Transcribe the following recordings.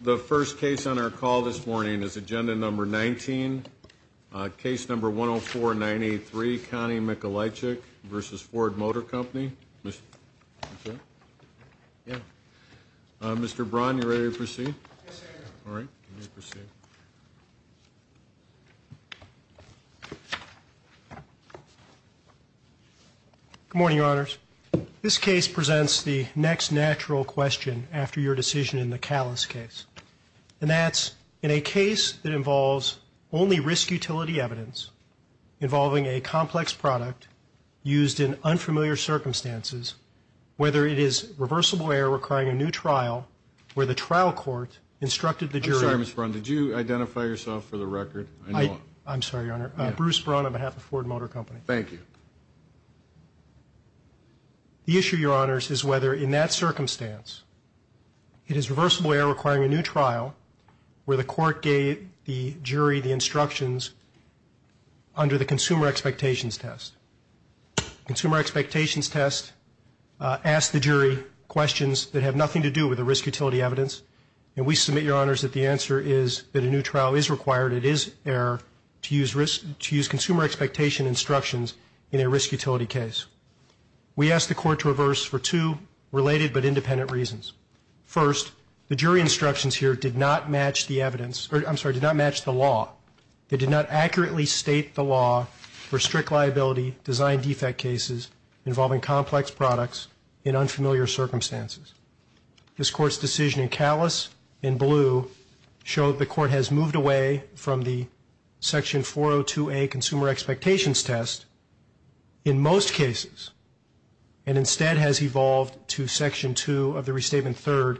The first case on our call this morning is agenda number 19, case number 104-983, Connie Mikolajczyk v. Ford Motor Company. Mr. Braun, you ready to proceed? Good morning, Your Honors. This case presents the next natural question after your decision in the Callis case, and that's in a case that involves only risk-utility evidence involving a complex product used in unfamiliar circumstances, whether it is reversible error requiring a new trial where the trial court instructed the jury. I'm sorry, Mr. Braun, did you identify yourself for the record? I'm sorry, Your Honor. Bruce Braun on behalf of Ford Motor Company. Thank you. The issue, Your Honors, is whether in that circumstance it is reversible error requiring a new trial where the court gave the jury the instructions under the consumer expectations test. Consumer expectations test asks the jury questions that have nothing to do with the risk-utility evidence, and we submit, Your Honors, that the answer is that a new trial is required. It is error to use consumer expectation instructions in a risk-utility case. We ask the court to reverse for two related but independent reasons. First, the jury instructions here did not match the evidence or, I'm sorry, did not match the law. They did not accurately state the law for strict liability design defect cases involving complex products in unfamiliar circumstances. This Court's decision in Callis in blue showed the court has moved away from the section 402A consumer expectations test in most cases and instead has evolved to section 2 of the restatement third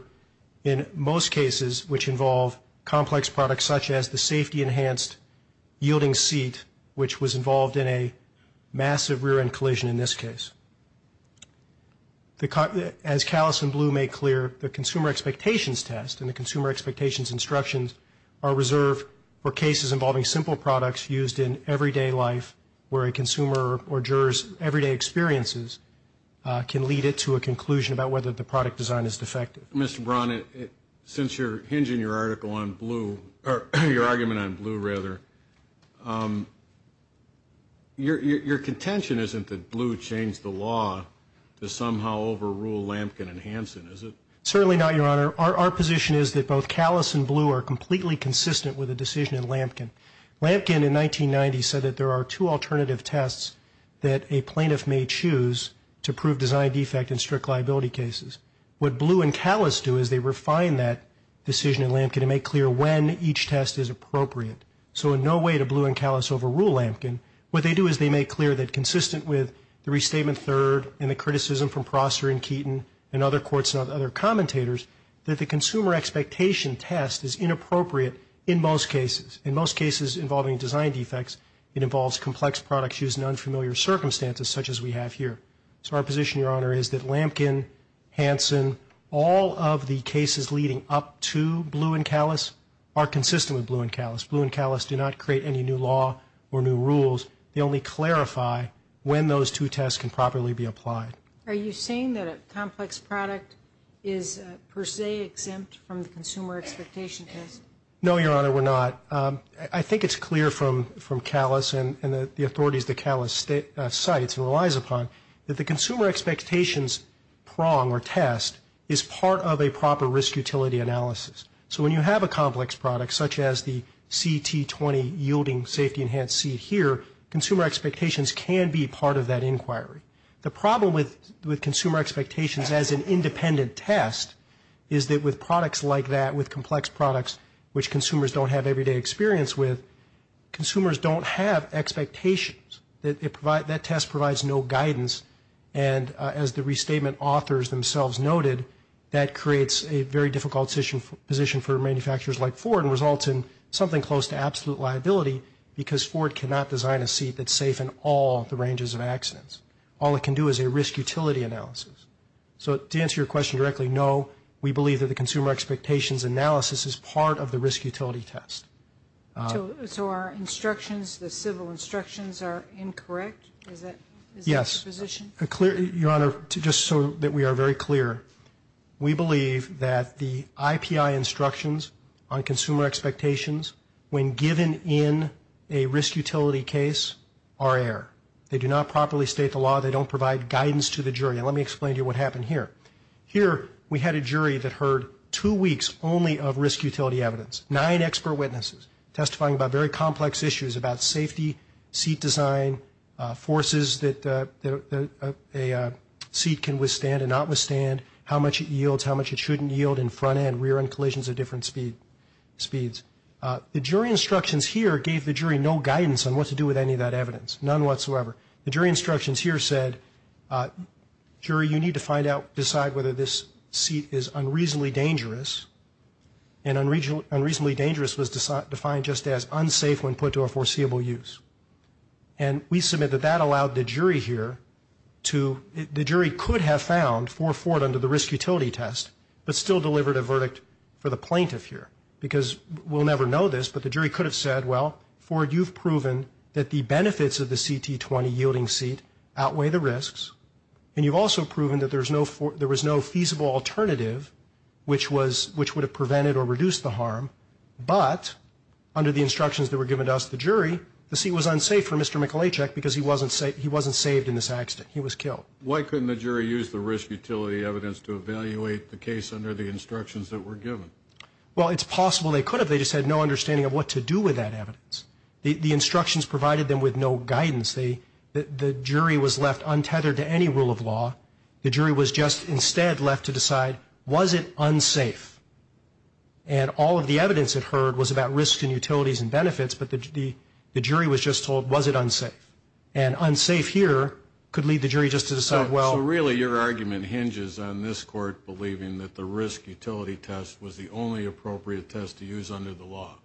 in most cases which involve complex products such as the safety-enhanced yielding seat which was involved in a massive rear-end collision in this case. As Callis in blue made clear, the consumer expectations test and the consumer expectations instructions are reserved for cases involving simple products used in everyday life where a consumer or juror's everyday experiences can lead it to a conclusion about whether the product design is defective. Mr. Braun, since you're hinging your article on blue, or your argument on blue, rather, your contention isn't that blue changed the law to somehow overrule Lampkin and Hanson, is it? Certainly not, Your Honor. Our position is that both Callis and blue are completely consistent with the decision in Lampkin. Lampkin, in 1990, said that there are two alternative tests that a plaintiff may choose to prove design defect in strict liability cases. What blue and Callis do is they refine that decision in Lampkin and make clear when each test is appropriate. So in no way do blue and Callis overrule Lampkin. What they do is they make clear that consistent with the restatement third and the criticism from Prosser and Keaton and other courts and other commentators, that the consumer expectation test is inappropriate in most cases. In most cases involving design defects, it involves complex products used in unfamiliar circumstances such as we have here. So our position, Your Honor, is that Lampkin, Hanson, all of the cases leading up to blue and Callis are consistent with blue and Callis. Blue and Callis do not create any new law or new rules. They only clarify when those two tests can properly be applied. Are you saying that a complex product is per se exempt from the consumer expectation test? No, Your Honor, we're not. I think it's clear from Callis and the authorities that Callis cites and relies upon that the consumer expectations prong or test is part of a proper risk utility analysis. So when you have a complex product such as the CT20 yielding safety enhanced seat here, consumer expectations can be part of that inquiry. The problem with consumer expectations as an independent test is that with products like that, with complex products which consumers don't have everyday experience with, consumers don't have expectations. That test provides no guidance and as the restatement authors themselves noted, that creates a very difficult position for manufacturers like Ford and results in something close to that. Ford cannot design a seat that's safe in all the ranges of accidents. All it can do is a risk utility analysis. So to answer your question directly, no, we believe that the consumer expectations analysis is part of the risk utility test. So our instructions, the civil instructions are incorrect? Is that the position? Yes. Your Honor, just so that we are very clear, we believe that the IPI instructions on consumer expectations when given in a risk utility case are error. They do not properly state the law. They don't provide guidance to the jury. And let me explain to you what happened here. Here we had a jury that heard two weeks only of risk utility evidence, nine expert witnesses testifying about very complex issues about safety, seat design, forces that a seat can withstand and not withstand, how much it yields, how much it shouldn't yield in front end, rear end collisions at different speeds. The jury instructions here gave the jury no guidance on what to do with any of that evidence, none whatsoever. The jury instructions here said, jury, you need to find out, decide whether this seat is unreasonably dangerous. And unreasonably dangerous was defined just as unsafe when put to a foreseeable use. And we submit that that allowed the jury here to, the jury could have found for Ford under the risk utility test, but still delivered a verdict for the plaintiff here because we'll never know this, but the jury could have said, well, Ford, you've proven that the benefits of the CT20 yielding seat outweigh the risks. And you've also proven that there was no feasible alternative which would have prevented or reduced the harm. But under the instructions that were given to us, the jury, the seat was unsafe for Mr. Michalacek because he wasn't saved in this accident. He was killed. Why couldn't the jury use the risk utility evidence to evaluate the case under the instructions that were given? Well, it's possible they could have. They just had no understanding of what to do with that evidence. The instructions provided them with no guidance. The jury was left untethered to any rule of law. The jury was just instead left to decide, was it unsafe? And all of the evidence it heard was about risks and utilities and benefits, but the jury was just left to decide, was it unsafe? And unsafe here could lead the jury just to decide, well... So really your argument hinges on this court believing that the risk utility test was the only appropriate test to use under the law.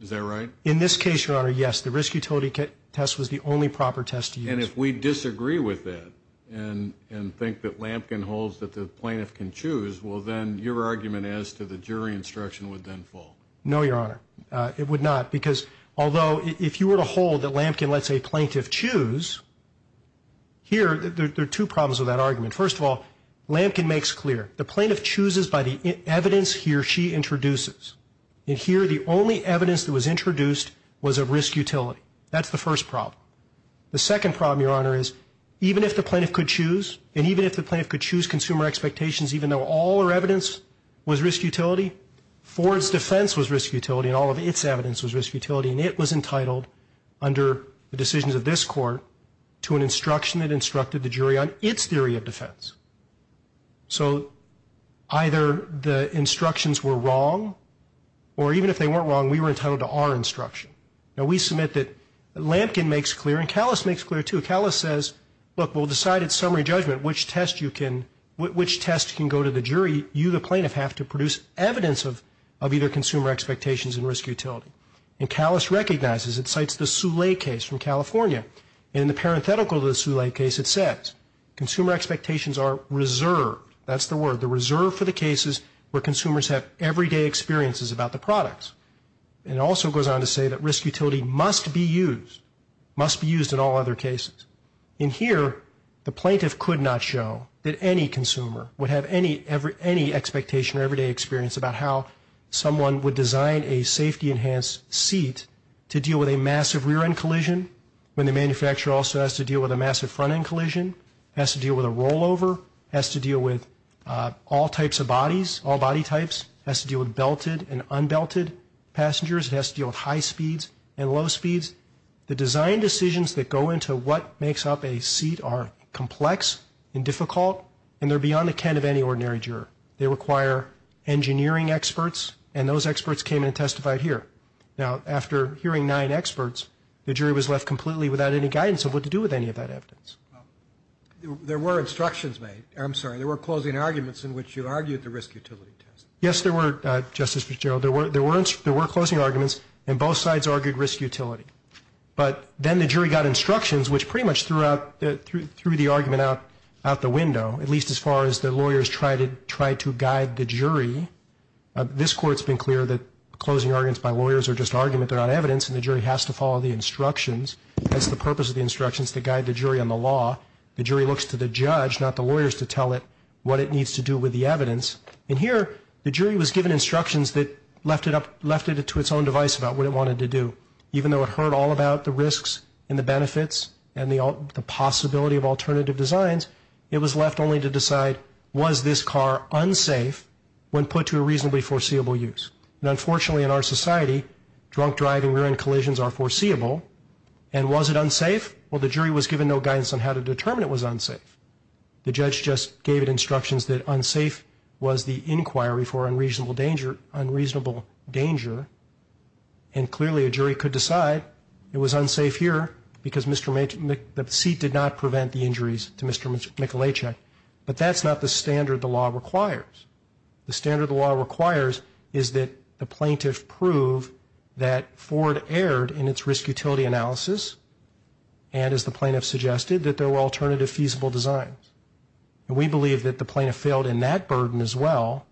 Is that right? In this case, Your Honor, yes. The risk utility test was the only proper test to use. And if we disagree with that and think that Lampkin holds that the plaintiff can choose, well then your argument as to the jury instruction would then fall. No, Your Honor. It would not, because although if you were to hold that Lampkin lets a plaintiff choose, here there are two problems with that argument. First of all, Lampkin makes clear the plaintiff chooses by the evidence he or she introduces. And here the only evidence that was introduced was of risk utility. That's the first problem. The second problem, Your Honor, is even if the plaintiff could choose, and even if the plaintiff could choose consumer expectations, even though all her evidence was risk utility, Ford's defense was risk utility and all of its evidence was risk utility, and it was entitled under the decisions of this court to an instruction that instructed the jury on its theory of defense. So either the instructions were wrong, or even if they weren't wrong, we were entitled to our instruction. Now we submit that Lampkin makes clear, and Callis makes clear too, Callis says, look we'll decide at summary judgment which test you can, which test can go to the jury. You, the plaintiff, have to produce evidence of either consumer expectations and risk utility. And Callis recognizes, it cites the Soule case from California, and in the parenthetical to the Soule case it says, consumer expectations are reserved, that's the word, they're reserved for the cases where consumers have everyday experiences about the products. And it also goes on to say that risk utility must be used, must be used in all other cases. In here, the plaintiff could not show that any consumer would have any expectation or everyday experience about how someone would design a safety enhanced seat to deal with a massive rear end collision, when the manufacturer also has to deal with a massive front end collision, has to deal with a rollover, has to deal with all types of bodies, all body of high speeds and low speeds. The design decisions that go into what makes up a seat are complex and difficult, and they're beyond the ken of any ordinary juror. They require engineering experts, and those experts came in and testified here. Now, after hearing nine experts, the jury was left completely without any guidance of what to do with any of that evidence. Well, there were instructions made, I'm sorry, there were closing arguments in which you argued the risk utility test. Yes, there were, Justice McGerald. There were closing arguments, and both sides argued risk utility. But then the jury got instructions, which pretty much threw the argument out the window, at least as far as the lawyers tried to guide the jury. This Court's been clear that closing arguments by lawyers are just argument, they're not evidence, and the jury has to follow the instructions. That's the purpose of the instructions, to guide the jury on the law. The jury looks to the judge, not the lawyers, to tell it what it needs to do with the evidence. And here, the jury was given instructions that left it to its own device about what it wanted to do. Even though it heard all about the risks and the benefits and the possibility of alternative designs, it was left only to decide, was this car unsafe when put to a reasonably foreseeable use? And unfortunately in our society, drunk driving, rear-end collisions are foreseeable. And was it unsafe? Well, the jury was given no guidance on how to determine it was unsafe. The judge just gave it instructions that unsafe was the inquiry for unreasonable danger, and clearly a jury could decide it was unsafe here because the seat did not prevent the injuries to Mr. Michalacek. But that's not the standard the law requires. The standard the law requires is that the plaintiff prove that Ford erred in its risk utility analysis, and as the plaintiff suggested, that there were alternative feasible designs. And we believe that the plaintiff failed in that burden as well,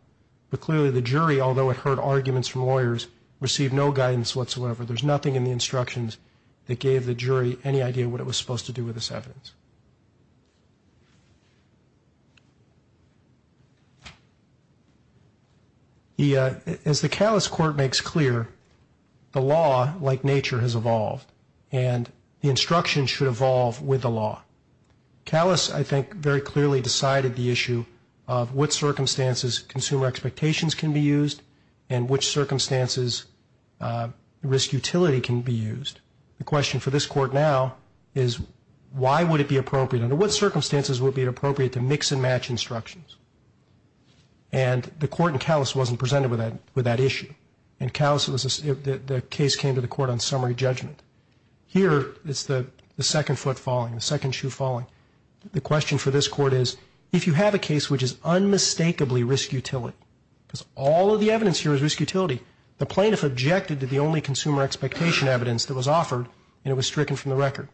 but clearly the jury, although it heard arguments from lawyers, received no guidance whatsoever. There's nothing in the instructions that gave the jury any idea what it was supposed to do with this evidence. As the Callis Court makes clear, the law like nature has evolved, and the instructions should evolve with the law. Callis, I think, very clearly decided the issue of what circumstances consumer expectations can be used and which is why would it be appropriate, under what circumstances would it be appropriate to mix and match instructions. And the court in Callis wasn't presented with that issue. In Callis, the case came to the court on summary judgment. Here, it's the second foot falling, the second shoe falling. The question for this court is, if you have a case which is unmistakably risk utility, because all of the evidence here is risk utility, the plaintiff objected to the only consumer expectation evidence that was offered, and it was stricken from the record.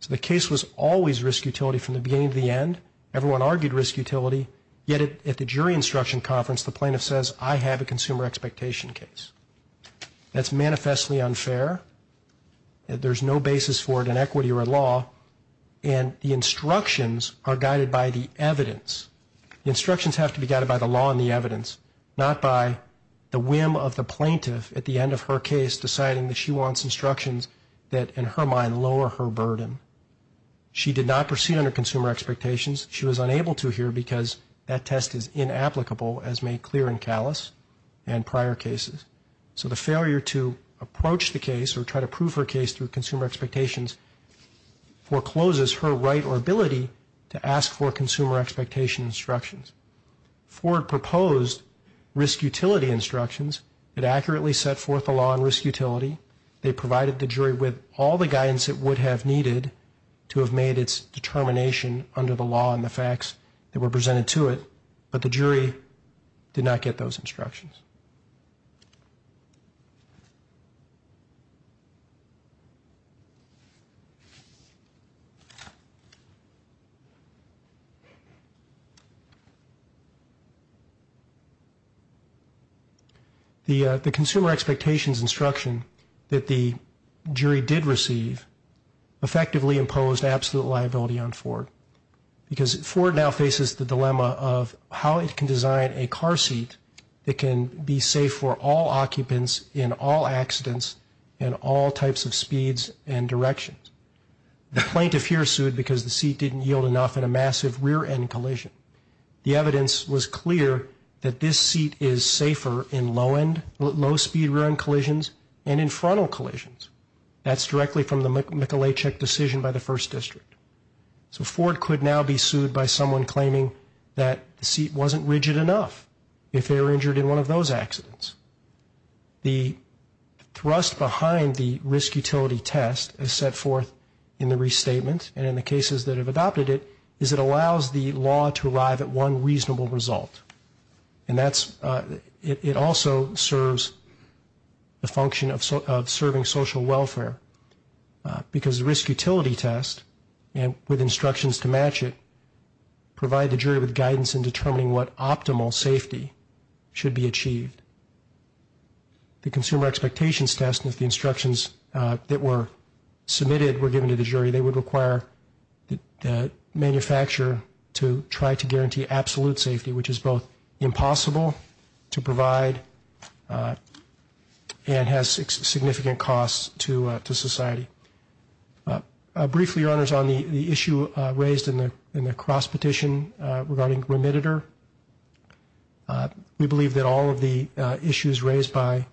So the case was always risk utility from the beginning to the end. Everyone argued risk utility, yet at the jury instruction conference, the plaintiff says, I have a consumer expectation case. That's manifestly unfair. There's no basis for it in equity or law, and the instructions are guided by the evidence. The instructions have to be guided by the law and the evidence, not by the whim of the plaintiff at the end of her case deciding that she wants instructions that, in her mind, lower her burden. She did not proceed under consumer expectations. She was unable to here because that test is inapplicable as made clear in Callis and prior cases. So the failure to approach the case or try to prove her case through consumer expectations forecloses her right or ability to ask for consumer expectation instructions. Ford proposed risk utility instructions that accurately set forth the law on risk utility. They provided the jury with all the guidance it would have needed to have made its determination under the law and the facts that were presented to it, but the jury did not get those instructions. The consumer expectations instruction that the jury did receive effectively imposed absolute liability on Ford because Ford now faces the dilemma of how it can design a car seat that can be safe for all occupants in all accidents and all types of speeds and directions. The plaintiff here sued because the seat didn't yield enough in a massive rear-end collision. The evidence was clear that this seat is safer in low-end, low-speed rear-end collisions and in frontal collisions. That's directly from the Michelechuk decision by the First District. So Ford could now be sued by someone claiming that the seat wasn't rigid enough if they were injured in one of those accidents. The thrust behind the risk utility test is set forth in the restatement and in the cases that have adopted it is it allows the law to arrive at one reasonable result. And that's, it also serves the function of serving social welfare because the risk utility test, with instructions to match it, provide the jury with guidance in determining what optimal safety should be achieved. The consumer expectations test with the instructions that were submitted were given to the jury, they would require the manufacturer to try to guarantee absolute safety, which is both impossible to provide and has significant costs to society. Briefly, Your Honors, on the issue raised in the cross petition regarding remittitor, we believe that all of the issues raised by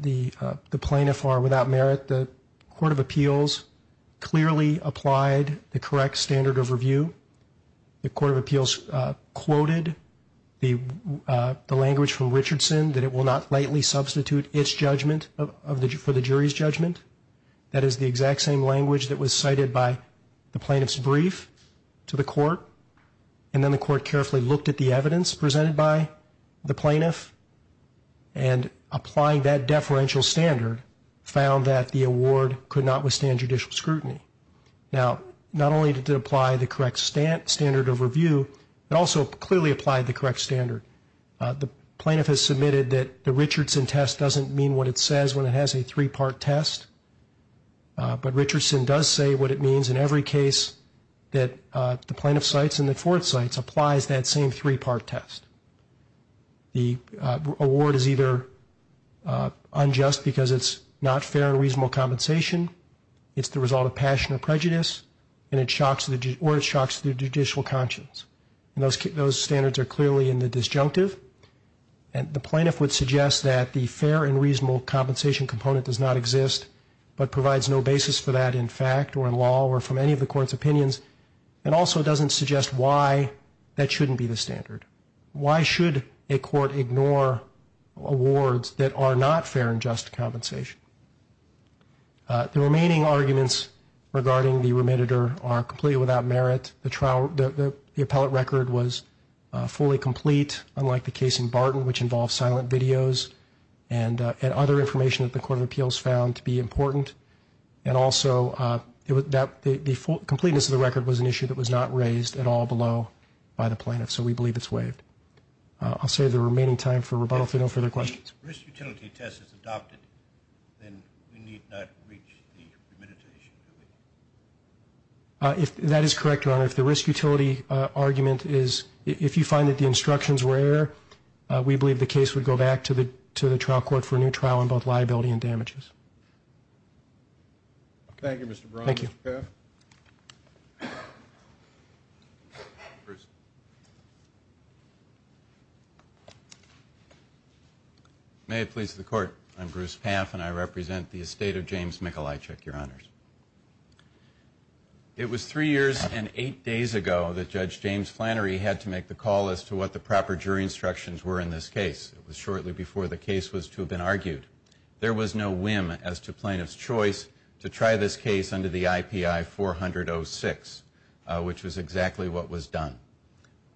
the plaintiff are without merit. The Court of Appeals clearly applied the correct standard of review. The Court of Appeals quoted the language from Richardson that it will not lightly substitute its judgment for the jury's judgment. That is the exact same language that was cited by the plaintiff's brief to the court and then the court carefully looked at the evidence presented by the plaintiff and applying that deferential standard found that the award could not withstand judicial scrutiny. Now, not only did it apply the correct standard of review, it also clearly applied the correct standard. The plaintiff has submitted that the Richardson test doesn't mean what it says when it has a three-part test, but Richardson does say what it means in every case that the plaintiff cites and the court cites applies that same three-part test. The award is either unjust because it's not fair and reasonable compensation, it's the result of passion or prejudice, or it shocks the judicial conscience. Those standards are clearly in the disjunctive. The plaintiff would suggest that the fair and reasonable compensation component does not exist, but provides no basis for that in fact or in law or from any of the court's opinions and also doesn't suggest why that shouldn't be the standard. Why should a court ignore awards that are not fair and just compensation? The remaining arguments regarding the remediator are completely without merit. The appellate record was fully complete, unlike the case in Barton, which involved silent videos and other information that the Court of Appeals found to be important. And also, the completeness of the record was an issue that was not raised at all below by the plaintiff, so we believe it's waived. I'll save the remaining time for rebuttal if there are no further questions. If the risk utility test is adopted, then we need not reach the remediator issue, do we? That is correct, Your Honor. If the risk utility argument is, if you find that the instructions were error, we believe the case would go back to the trial court for a new trial on both liability and damages. Thank you, Mr. Brown. Thank you. Mr. Paff. Mr. Paff and I represent the estate of James Michalajczyk, Your Honors. It was three years and eight days ago that Judge James Flannery had to make the call as to what the proper jury instructions were in this case. It was shortly before the case was to have been argued. There was no whim as to plaintiff's choice to try this case under the IPI 400-06, which was exactly what was done.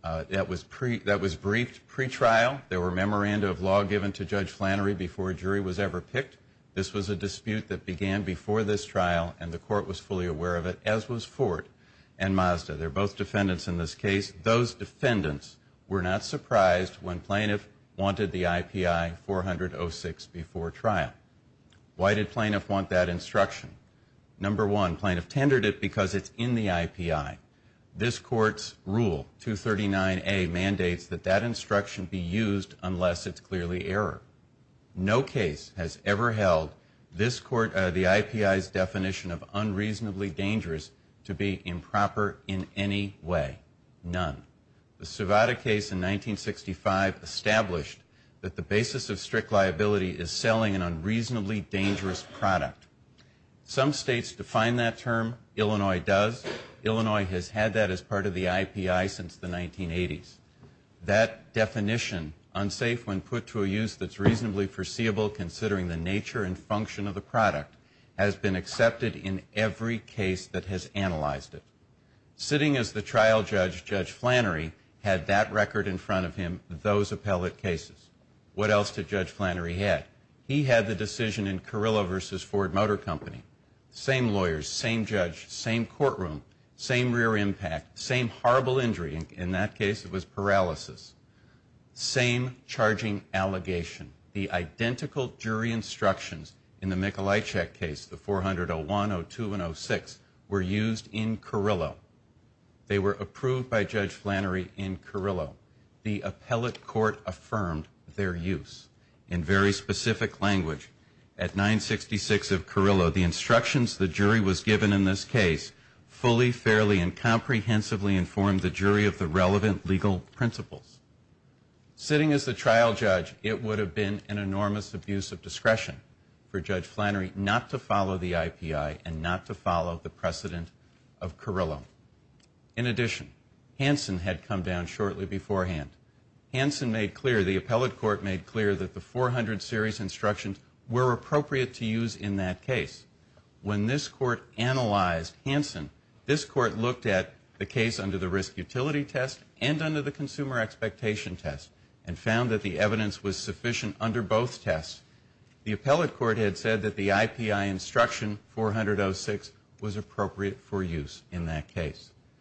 That was briefed pre-trial. There were memoranda of law given to Judge Flannery before a jury was ever picked. This was a dispute that began before this trial, and the court was fully aware of it, as was Ford and Mazda. They're both defendants in this case. Those defendants were not surprised when plaintiff wanted the IPI 400-06 before trial. Why did plaintiff want that instruction? Number one, plaintiff tendered it because it's in the IPI. This court's rule, 239A, mandates that that instruction be used unless it's clearly error. No case has ever held the IPI's definition of unreasonably dangerous to be improper in any way. None. The Savada case in 1965 established that the basis of strict liability is selling an unreasonably dangerous product. Some states define that term. Illinois does. Illinois has had that as part of the IPI since the 1980s. That definition, unsafe when put to a use that's reasonably foreseeable considering the nature and function of the product, has been accepted in every case that has analyzed it. Sitting as the trial judge, Judge Flannery had that record in front of him, those appellate cases. What else did Judge Flannery have? He had the decision in Carrillo v. Ford Motor Company. Same lawyers, same judge, same courtroom, same rear impact, same horrible injury. In that case, it was paralysis. Same charging allegation. The identical jury instructions in the Mikolajczyk case, the 400-01, 02, and 06, were used in Carrillo. They were approved by Judge Flannery in Carrillo. The appellate court affirmed their use in very specific language. At 966 of Carrillo, the instructions the jury was given in this case fully, fairly, and comprehensively informed the jury of the relevant legal principles. Sitting as the trial judge, it would have been an enormous abuse of discretion for Judge Flannery not to follow the IPI and not to follow the precedent of Carrillo. In addition, Hansen had come down shortly beforehand. Hansen made clear, the appellate court had said that the IPI instruction, 400-06, was appropriate for use in that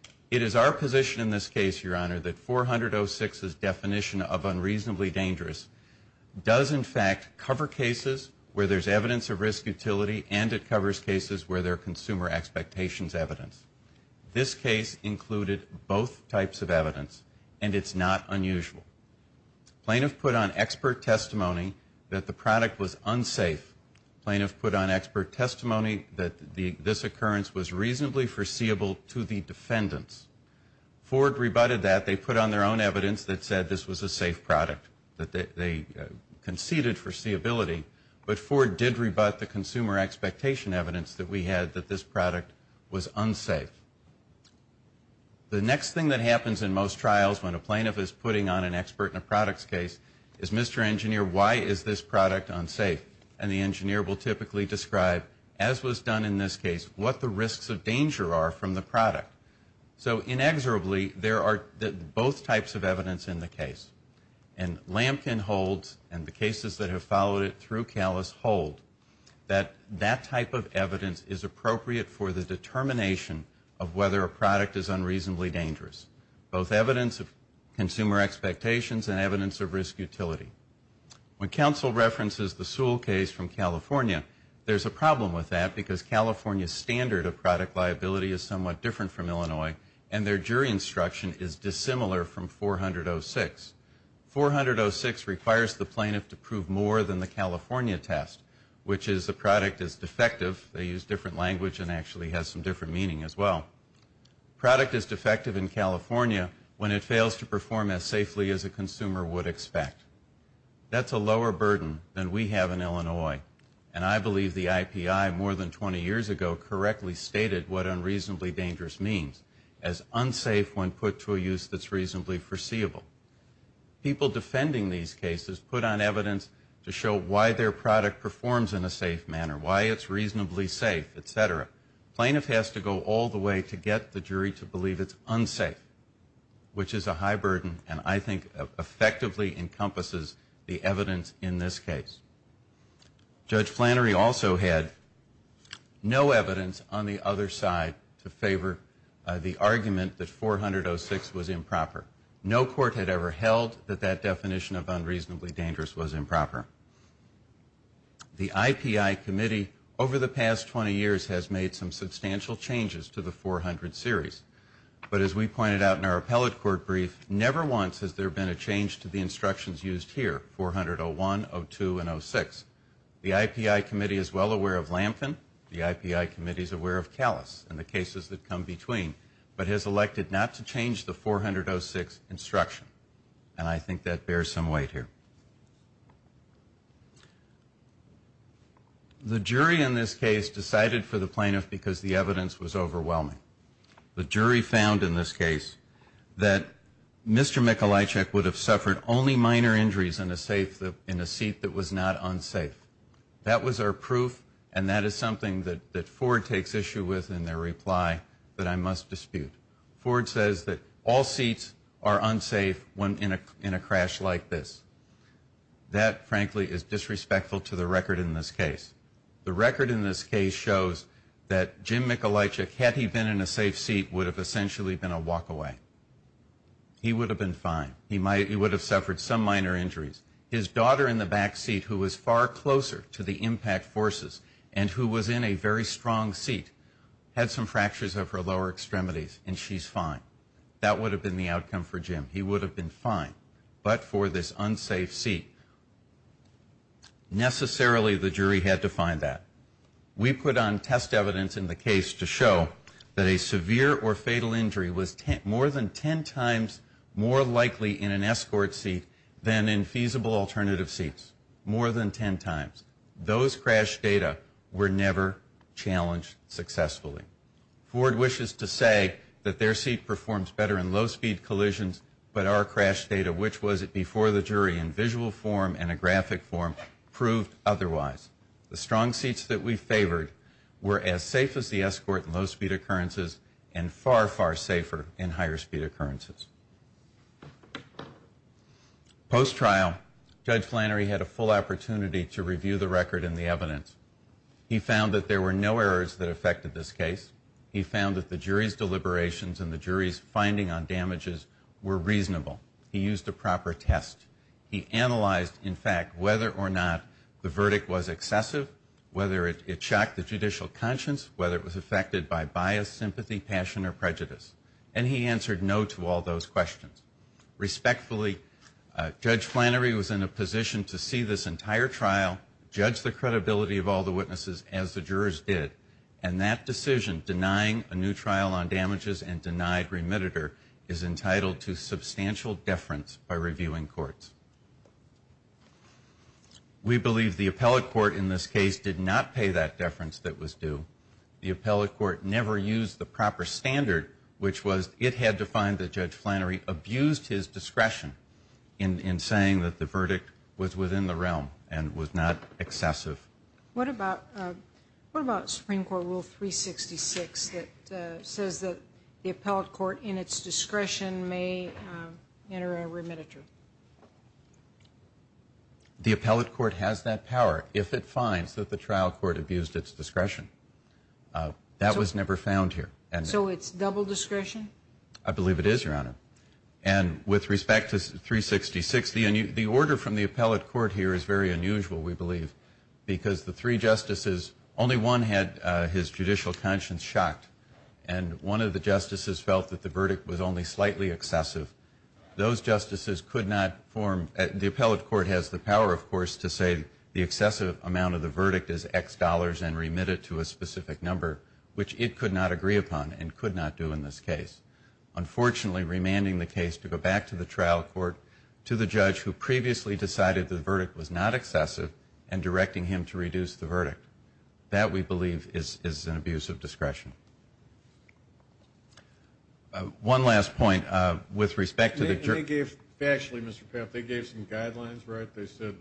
case. It is our position in this case, Your Honor, that 400-06's definition of unreasonably appropriate for use in that case. It covers cases where there's evidence of risk utility, and it covers cases where there are consumer expectations evidence. This case included both types of evidence, and it's not unusual. Plaintiff put on expert testimony that the product was unsafe. Plaintiff put on expert testimony that this occurrence was reasonably foreseeable to the defendants. Ford rebutted that. They put on their own foreseeability, but Ford did rebut the consumer expectation evidence that we had that this product was unsafe. The next thing that happens in most trials when a plaintiff is putting on an expert in a product's case is, Mr. Engineer, why is this product unsafe? And the engineer will typically describe, as was done in this case, what the risks of danger are from the product. So inexorably, there are both types of evidence in the case. And Lampkin holds, and the cases that have followed it through Calus hold, that that type of evidence is appropriate for the determination of whether a product is unreasonably dangerous, both evidence of consumer expectations and evidence of risk utility. When counsel references the Sewell case from California, there's a problem with that because California's standard of product liability is somewhat different from Illinois, and their jury instruction is dissimilar from 400.06. 400.06 requires the plaintiff to prove more than the California test, which is the product is defective. They use different language and actually has some different meaning as well. Product is defective in California when it fails to perform as safely as a consumer would expect. That's a lower burden than we have in Illinois. And I believe the IPI more than 20 years ago correctly stated what unreasonably dangerous means, as unsafe when put to a use that's reasonably foreseeable. People defending these cases put on evidence to show why their product performs in a safe manner, why it's reasonably safe, et cetera. The plaintiff has to go all the way to get the jury to believe it's unsafe, which is a high burden and I think effectively encompasses the evidence in this case. Judge Flannery also had no evidence on the other side to favor the argument that 400.06 was improper. No court had ever held that that definition of unreasonably dangerous was improper. The IPI committee over the past 20 years has made some substantial changes to the 400 series. But as we pointed out in our appellate court brief, never once has there been a change to the instructions used here, 400.01, 02, and 06. The IPI committee is well aware of Lampkin. The IPI committee is aware of Callas and the cases that come between, but has elected not to change the 400.06 instruction. And I think that bears some weight here. The jury in this case decided for the plaintiff because the evidence was overwhelming. The jury found in this case that Mr. Mikulajcic would have suffered only minor injuries in a seat that was not unsafe. That was our proof and that is something that Ford takes issue with in their reply that I must dispute. Ford says that all seats are unsafe in a crash like this. That, frankly, is disrespectful to the record in this case. The record in this case shows that Jim Mikulajcic, had he been in a safe seat, would have essentially been a walk away. He would have been fine. He would have suffered some minor injuries. His daughter in the back seat who was far closer to the impact forces and who was in a very strong seat had some fractures of her lower extremities and she's fine. That would have been the outcome for Jim. He would have been fine. But for this unsafe seat, necessarily the jury had to find that. We put on test evidence in the case to show that Jim Mikulajcic that a severe or fatal injury was more than ten times more likely in an escort seat than in feasible alternative seats. More than ten times. Those crash data were never challenged successfully. Ford wishes to say that their seat performs better in low speed collisions, but our crash data, which was it before the jury in visual form and a graphic form, proved otherwise. The strong seats that we favored were as safe as the escort in low speed occurrences and far, far safer in higher speed occurrences. Post-trial, Judge Flannery had a full opportunity to review the record and the evidence. He found that there were no errors that affected this case. He found that the jury's deliberations and the jury's finding on damages were reasonable. He used a proper test. He analyzed, in fact, whether or not the verdict was acceptable. He found that the verdict was excessive, whether it shocked the judicial conscience, whether it was affected by bias, sympathy, passion, or prejudice. And he answered no to all those questions. Respectfully, Judge Flannery was in a position to see this entire trial, judge the credibility of all the witnesses as the jurors did. And that decision, denying a new trial on damages and denied remitted her, is entitled to substantial deference by reviewing courts. We believe the appellate court in this case did not pay that deference that was due. The appellate court never used the proper standard, which was it had to find that Judge Flannery abused his discretion in saying that the verdict was within the realm and was not excessive. What about Supreme Court Rule 366 that says that the appellate court in its discretion may enter a remittiture? The appellate court has that power if it finds that the trial court abused its discretion. That was never found here. So it's double discretion? I believe it is, Your Honor. And with respect to 366, the order from the appellate court here is very unusual, we believe, because the three justices, only one had his judicial conscience shocked, and one of the justices felt that the verdict was only slightly excessive. Those justices could not form, the appellate court has the power, of course, to say the excessive amount of the verdict is X dollars and remit it to a specific number, which it could not agree upon and could not do in this case. Unfortunately, remanding the case to go back to the trial court, to the judge who previously decided the verdict was not excessive, and directing him to reduce the verdict. That, we believe, is an abuse of discretion. One last point, with respect to the jury. They gave, actually, Mr. Papp, they gave some guidelines, right? They said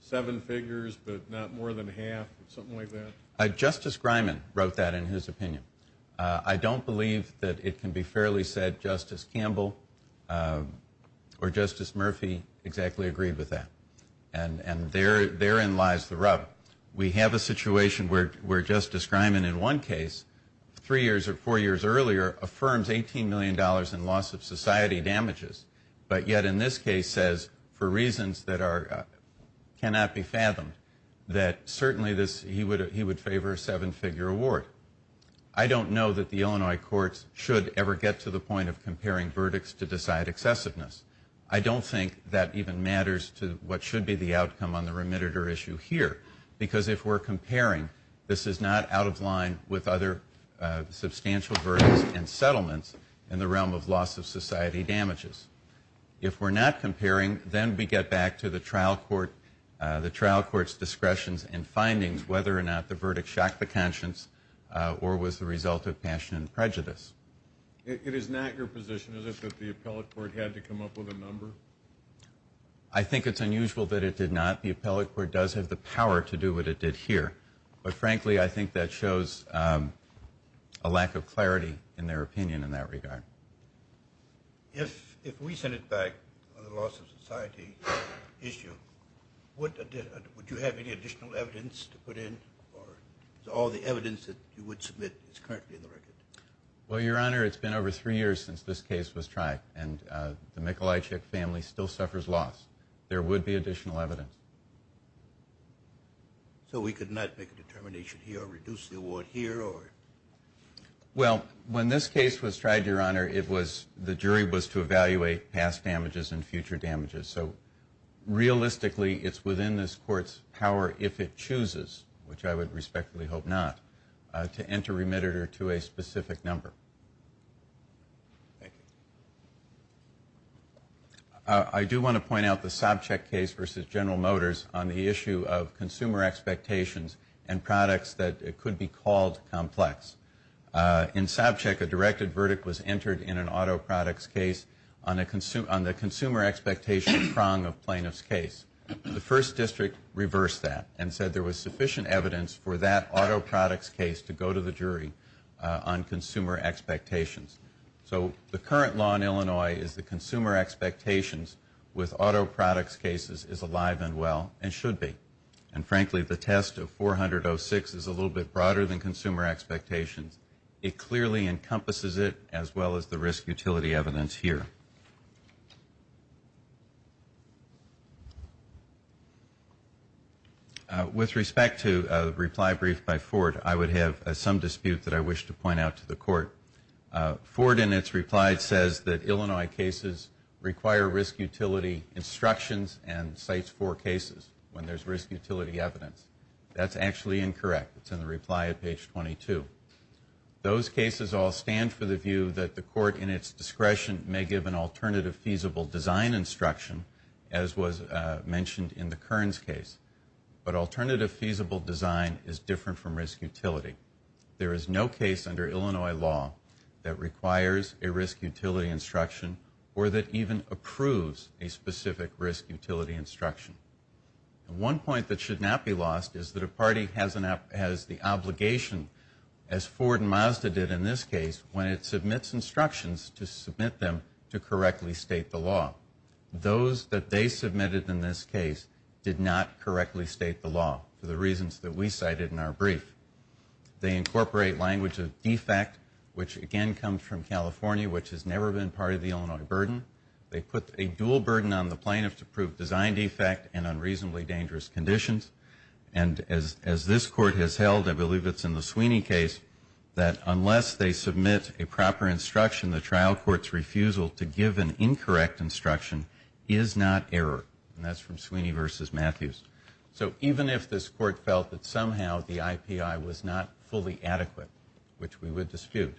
seven figures, but not more than half, something like that? Justice Griman wrote that in his opinion. I don't believe that it can be fairly said Justice Campbell or Justice Murphy exactly agreed with that. And therein lies the rub. We have a situation where Justice Griman in one case, three years or four years earlier, affirms $18 million in loss of society damages, but yet in this case says, for reasons that cannot be fathomed, that certainly he would favor a seven-figure award. I don't know that the Illinois courts should ever get to the point of comparing verdicts to decide excessiveness. I don't think that even matters to what should be the outcome on the remediator issue here. Because if we're comparing, this is not out of line with other substantial verdicts and settlements in the realm of loss of society damages. If we're not comparing, then we get back to the trial court, the trial court's discretions and findings, whether or not the verdict shocked the conscience or was the result of passion and prejudice. It is not your position, is it, that the appellate court had to come up with a number? I think it's unusual that it did not. The appellate court does have the power to do what it did here. But frankly, I think that shows a lack of clarity in their opinion in that regard. If we sent it back on the loss of society issue, would you have any additional evidence to put in? Or is all the evidence that you would submit is currently in the record? Well, Your Honor, it's been over three years since this case was tried, and the Michalajczyk family still suffers loss. There would be additional evidence. So we could not make a determination here or reduce the award here or? Well, when this case was tried, Your Honor, it was, the jury was to evaluate past damages and future damages. So realistically, it's within this court's power, if it chooses, which I would respectfully hope not, to enter remitted or to a specific number. I do want to point out the Sobchak case versus General Motors on the issue of consumer expectations and products that could be called complex. In Sobchak, a directed verdict was entered in an auto products case on the consumer expectation prong of plaintiff's case. The first district reversed that and said there was sufficient evidence for that auto products case to go to the jury on consumer expectations. So the current law in Illinois is the consumer expectations with auto products cases is alive and well and should be. And frankly, the test of 400.06 is a little bit broader than consumer expectations. It clearly encompasses it as well as the risk utility evidence here. With respect to a reply brief by Ford, I would have some dispute that I wish to point out to the court. Ford, in its reply, says that Illinois cases require risk utility instructions and CITES IV cases. When there's risk utility evidence, that's actually incorrect. It's in the reply at page 22. Those cases all stand for the view that the court in its discretion may give an alternative feasible design instruction as was mentioned in the Kearns case. But alternative feasible design is different from risk utility. There is no case under Illinois law that requires a risk utility instruction or that even approves a specific risk utility instruction. One point that should not be lost is that a party has the obligation, as Ford and Mazda did in this case, when it submits instructions to submit them to correctly state the law. Those that they submitted in this case did not correctly state the law for the reasons that we cited in our brief. They incorporate language of defect, which again comes from California, which has never been part of the Illinois burden. They put a dual burden on the plaintiff to prove design defect and unreasonably dangerous conditions. And as this court has held, I believe it's in the Sweeney case, that unless they submit a proper instruction, the trial court's refusal to give an incorrect instruction is not error. And that's from Sweeney v. Matthews. So even if this court felt that somehow the IPI was not fully adequate, which we would dispute,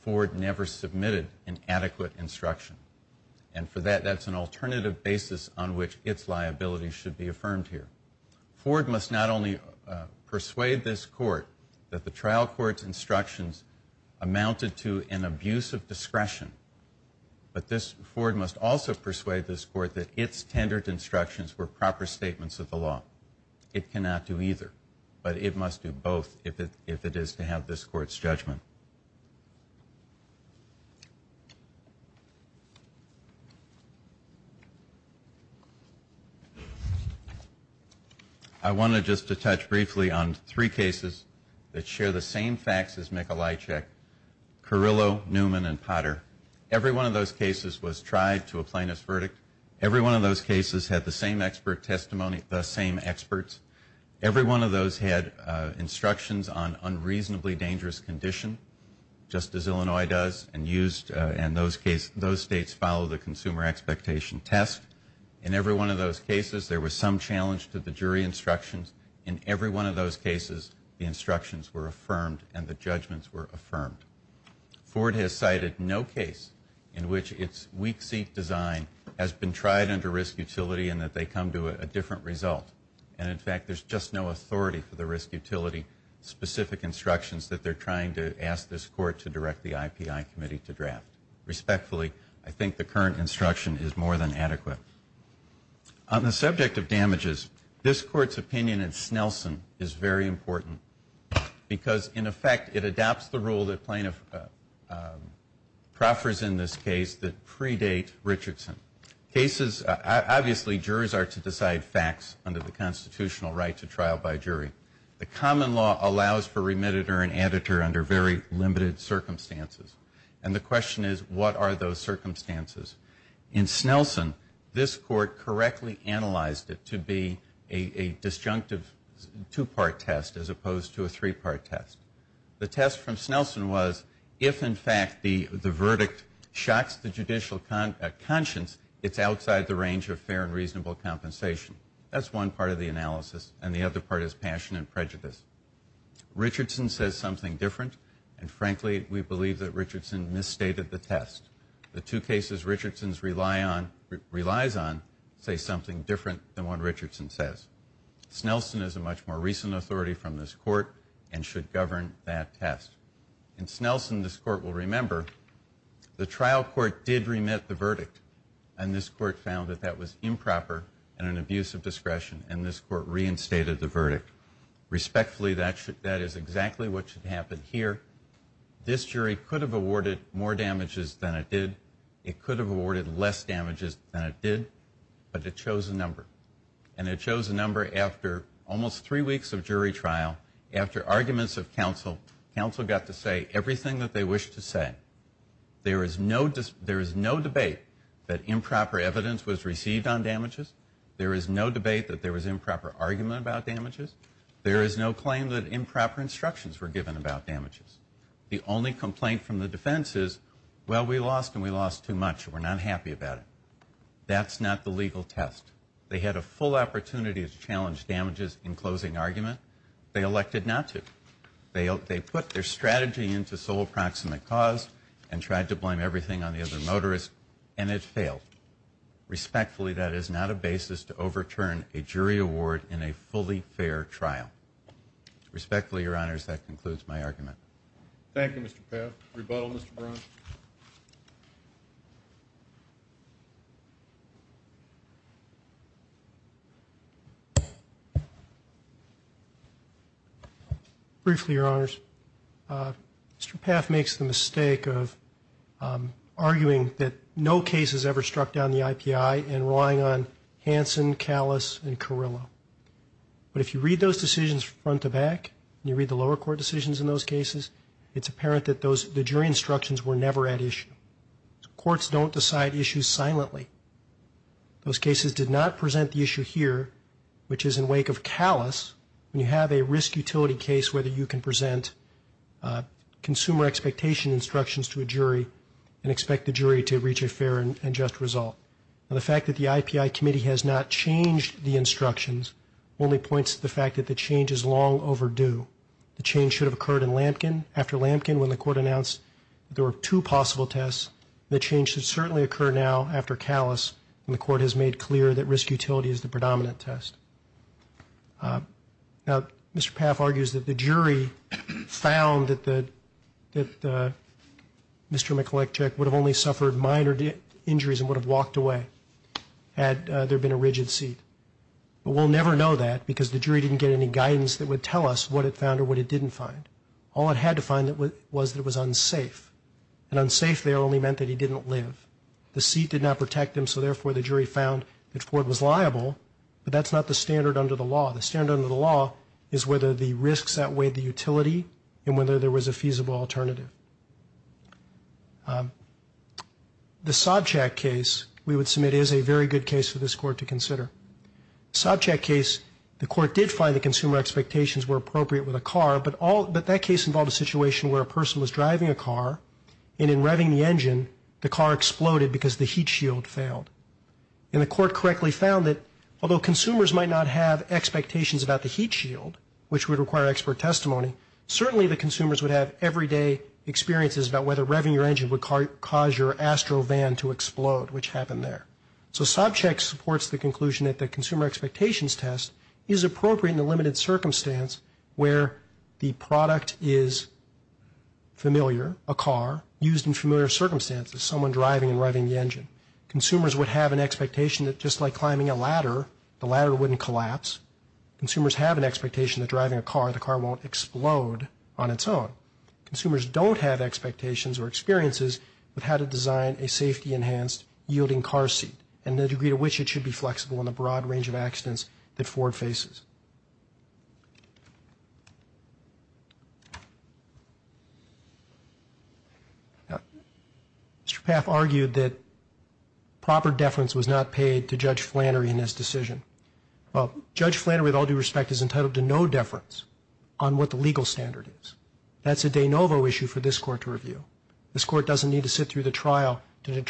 Ford never submitted an adequate instruction. And for that, that's an alternative basis on which its liability should be affirmed here. Ford must not only persuade this court that the trial court's instructions amounted to an abuse of discretion, but Ford must also persuade this court that its tendered instructions were proper statements of the law. It cannot do either, but it must do both if it is to have this court's judgment. I wanted just to touch briefly on three cases that share the same facts as Mikulajczyk, Carrillo, Newman, and Potter. Every one of those cases was tried to a plaintiff's verdict. Every one of those cases had the same expert testimony, the same experts. Every one of those had instructions on unreasonably dangerous condition, just as Illinois does and used. And those states follow the consumer expectation test. In every one of those cases, there was some challenge to the jury instructions. In every one of those cases, the instructions were affirmed and the judgments were affirmed. Ford has cited no case in which its weak seat design has been tried under risk utility and that they come to a different result. And in fact, there's just no authority for the risk utility specific instructions that they're trying to ask this court to direct the IPI committee to draft. Respectfully, I think the current instruction is more than adequate. On the subject of damages, this court's opinion in Snelson is very important because, in effect, it adopts the rule that plaintiff proffers in this case that predate Richardson. Cases, obviously, jurors are to decide facts under the constitutional right to trial by jury. The common law allows for remitted or an editor under very limited circumstances. And the question is, what are those circumstances? In Snelson, this court correctly analyzed it to be a disjunctive two-part test as opposed to a three-part test. The test from Snelson was, if, in fact, the verdict shocks the judicial conscience, it's outside the range of fair and reasonable compensation. And the other part is passion and prejudice. Richardson says something different, and frankly, we believe that Richardson misstated the test. The two cases Richardson relies on say something different than what Richardson says. Snelson is a much more recent authority from this court and should govern that test. In Snelson, this court will remember the trial court did remit the verdict, and this court found that that was improper and an abuse of discretion. And this court reinstated the verdict. Respectfully, that is exactly what should happen here. This jury could have awarded more damages than it did. It could have awarded less damages than it did, but it chose a number. And it chose a number after almost three weeks of jury trial, after arguments of counsel. Counsel got to say everything that they wished to say. There is no debate that improper evidence was received on damages. There is no debate that there was improper argument about damages. There is no claim that improper instructions were given about damages. The only complaint from the defense is, well, we lost, and we lost too much, and we're not happy about it. That's not the legal test. They had a full opportunity to challenge damages in closing argument. They elected not to. They put their strategy into sole proximate cause and tried to blame everything on the other motorist, and it failed. Respectfully, that is not a basis to overturn a jury award in a fully fair trial. Respectfully, Your Honors, that concludes my argument. Thank you, Mr. Paff. Rebuttal, Mr. Brown. Briefly, Your Honors. Mr. Paff makes the mistake of arguing that no case has ever struck down the IPI and relying on Hanson, Callas, and Carrillo, but if you read those decisions front to back, and you read the lower court decisions in those cases, it's apparent that the jury instructions were never at issue. Courts don't decide issues silently. Those cases did not present the issue here, which is in wake of Callas, when you have a risk utility case where you can present consumer expectation instructions to a jury and expect the jury to reach a fair and just result. Now, the fact that the IPI committee has not changed the instructions only points to the fact that the change is long overdue. The change should have occurred in Lampkin. After Lampkin, when the court announced there were two possible tests, the change should certainly occur now after Callas, and the court has made clear that risk utility is the predominant test. Now, Mr. Paff argues that the jury found that Mr. Mikulakich would have only suffered minor injuries and would have walked away had there been a rigid seat, but we'll never know that because the jury didn't get any guidance that would tell us what it found or what it didn't find. All it had to find was that it was unsafe, and unsafe there only meant that he didn't live. The seat did not protect him, so therefore the jury found that Ford was liable, but that's not the standard under the law. The standard under the law is whether the risks outweigh the utility and whether there was a feasible alternative. The Sobchak case, we would submit, is a very good case for this court to consider. Sobchak case, the court did find that consumer expectations were appropriate with a car, but that case involved a situation where a person was driving a car, and in revving the engine the car exploded because the heat shield failed. And the court correctly found that although consumers might not have expectations about the heat shield, which would require expert testimony, certainly the consumers would have everyday experiences about whether revving your engine would cause your Astrovan to explode, which happened there. So Sobchak supports the conclusion that the consumer expectations test is appropriate in the limited circumstance where the product is familiar, a car, used in familiar circumstances, someone driving and revving the engine. Consumers would have an expectation that just like climbing a ladder, the ladder wouldn't collapse. Consumers have an expectation that driving a car, the car won't explode on its own. Consumers don't have expectations or experiences with how to design a safety-enhanced yielding car seat and the degree to which it should be flexible in the broad range of accidents that Ford faces. Mr. Paff argued that proper deference was not paid to Judge Flannery in his decision. Well, Judge Flannery, with all due respect, is entitled to no deference on what the legal standard is. That's a de novo issue for this Court to review. This Court doesn't need to sit through the trial to hear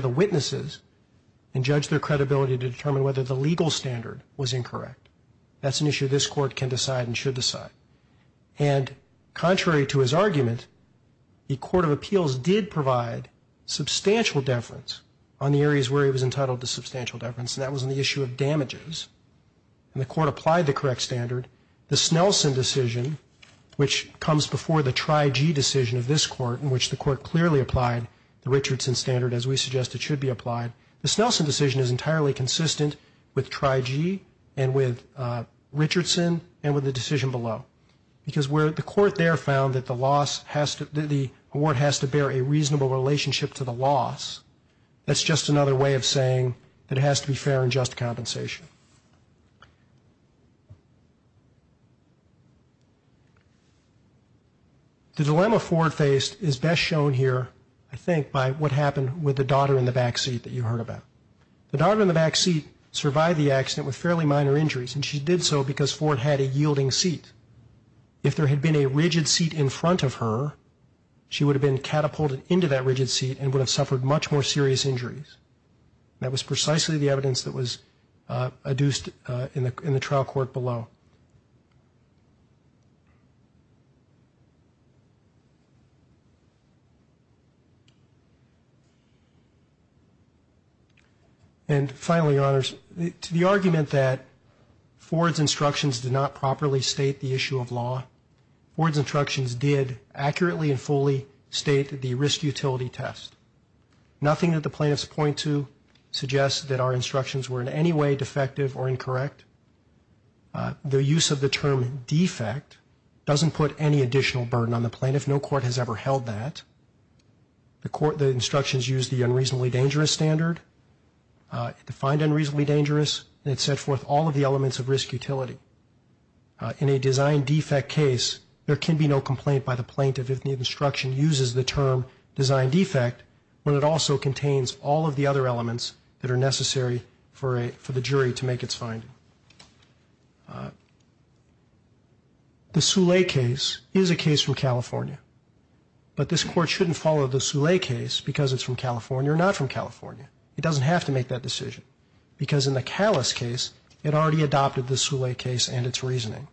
the witnesses and judge their credibility to determine whether the legal standard was incorrect. That's an issue this Court can decide and should decide. And contrary to his argument, the Court of Appeals did provide substantial deference on the areas where he was entitled to substantial deference, and that was on the issue of damages. And the Court applied the correct standard. The Snelson decision, which comes before the Trigee decision of this Court, in which the Court clearly applied the Richardson standard as we suggest it should be applied, the Snelson decision is entirely consistent with Trigee and with Richardson and with the decision below. Because where the Court there found that the award has to bear a reasonable relationship to the loss, that's just another way of saying that it has to be fair and just compensation. The dilemma Ford faced is best shown here, I think, by what happened with the daughter in the back seat that you heard about. The daughter in the back seat survived the accident with fairly minor injuries, and she did so because Ford had a yielding seat. If there had been a rigid seat in front of her, she would have been catapulted into that rigid seat and would have suffered much more serious injuries. That was precisely the evidence that was adduced in the trial court below. And finally, Your Honors, to the argument that Ford's instructions did not properly state the issue of law, Ford's instructions did accurately and fully state the risk-utility test. Nothing that the plaintiffs point to suggests that our instructions were in any way defective or incorrect. The use of the term defect doesn't put any additional burden on the plaintiff. No court has ever held that. The court, the instructions used the unreasonably dangerous standard. It defined unreasonably dangerous, and it set forth all of the elements of risk-utility. In a design defect case, there can be no complaint by the plaintiff if the instruction uses the term design defect, when it also contains all of the other elements that are necessary for the jury to make its finding. The Soule case is a case from California. But this court shouldn't follow the Soule case because it's from California or not from California. It doesn't have to make that decision, because in the Callis case, it already adopted the Soule case and its reasoning.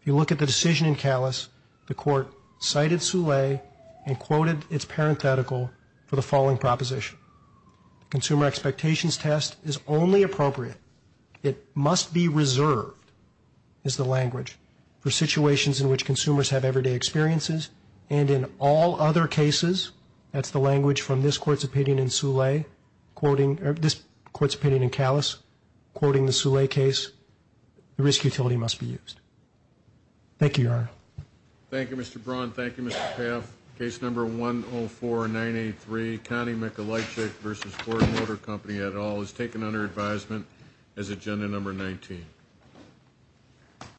If you look at the decision in Callis, the court cited Soule and quoted its parenthetical in the following proposition. Consumer expectations test is only appropriate. It must be reserved, is the language, for situations in which consumers have everyday experiences, and in all other cases, that's the language from this court's opinion in Soule, quoting or this court's opinion in Callis, quoting the Soule case, the risk-utility must be used. Thank you, Your Honor.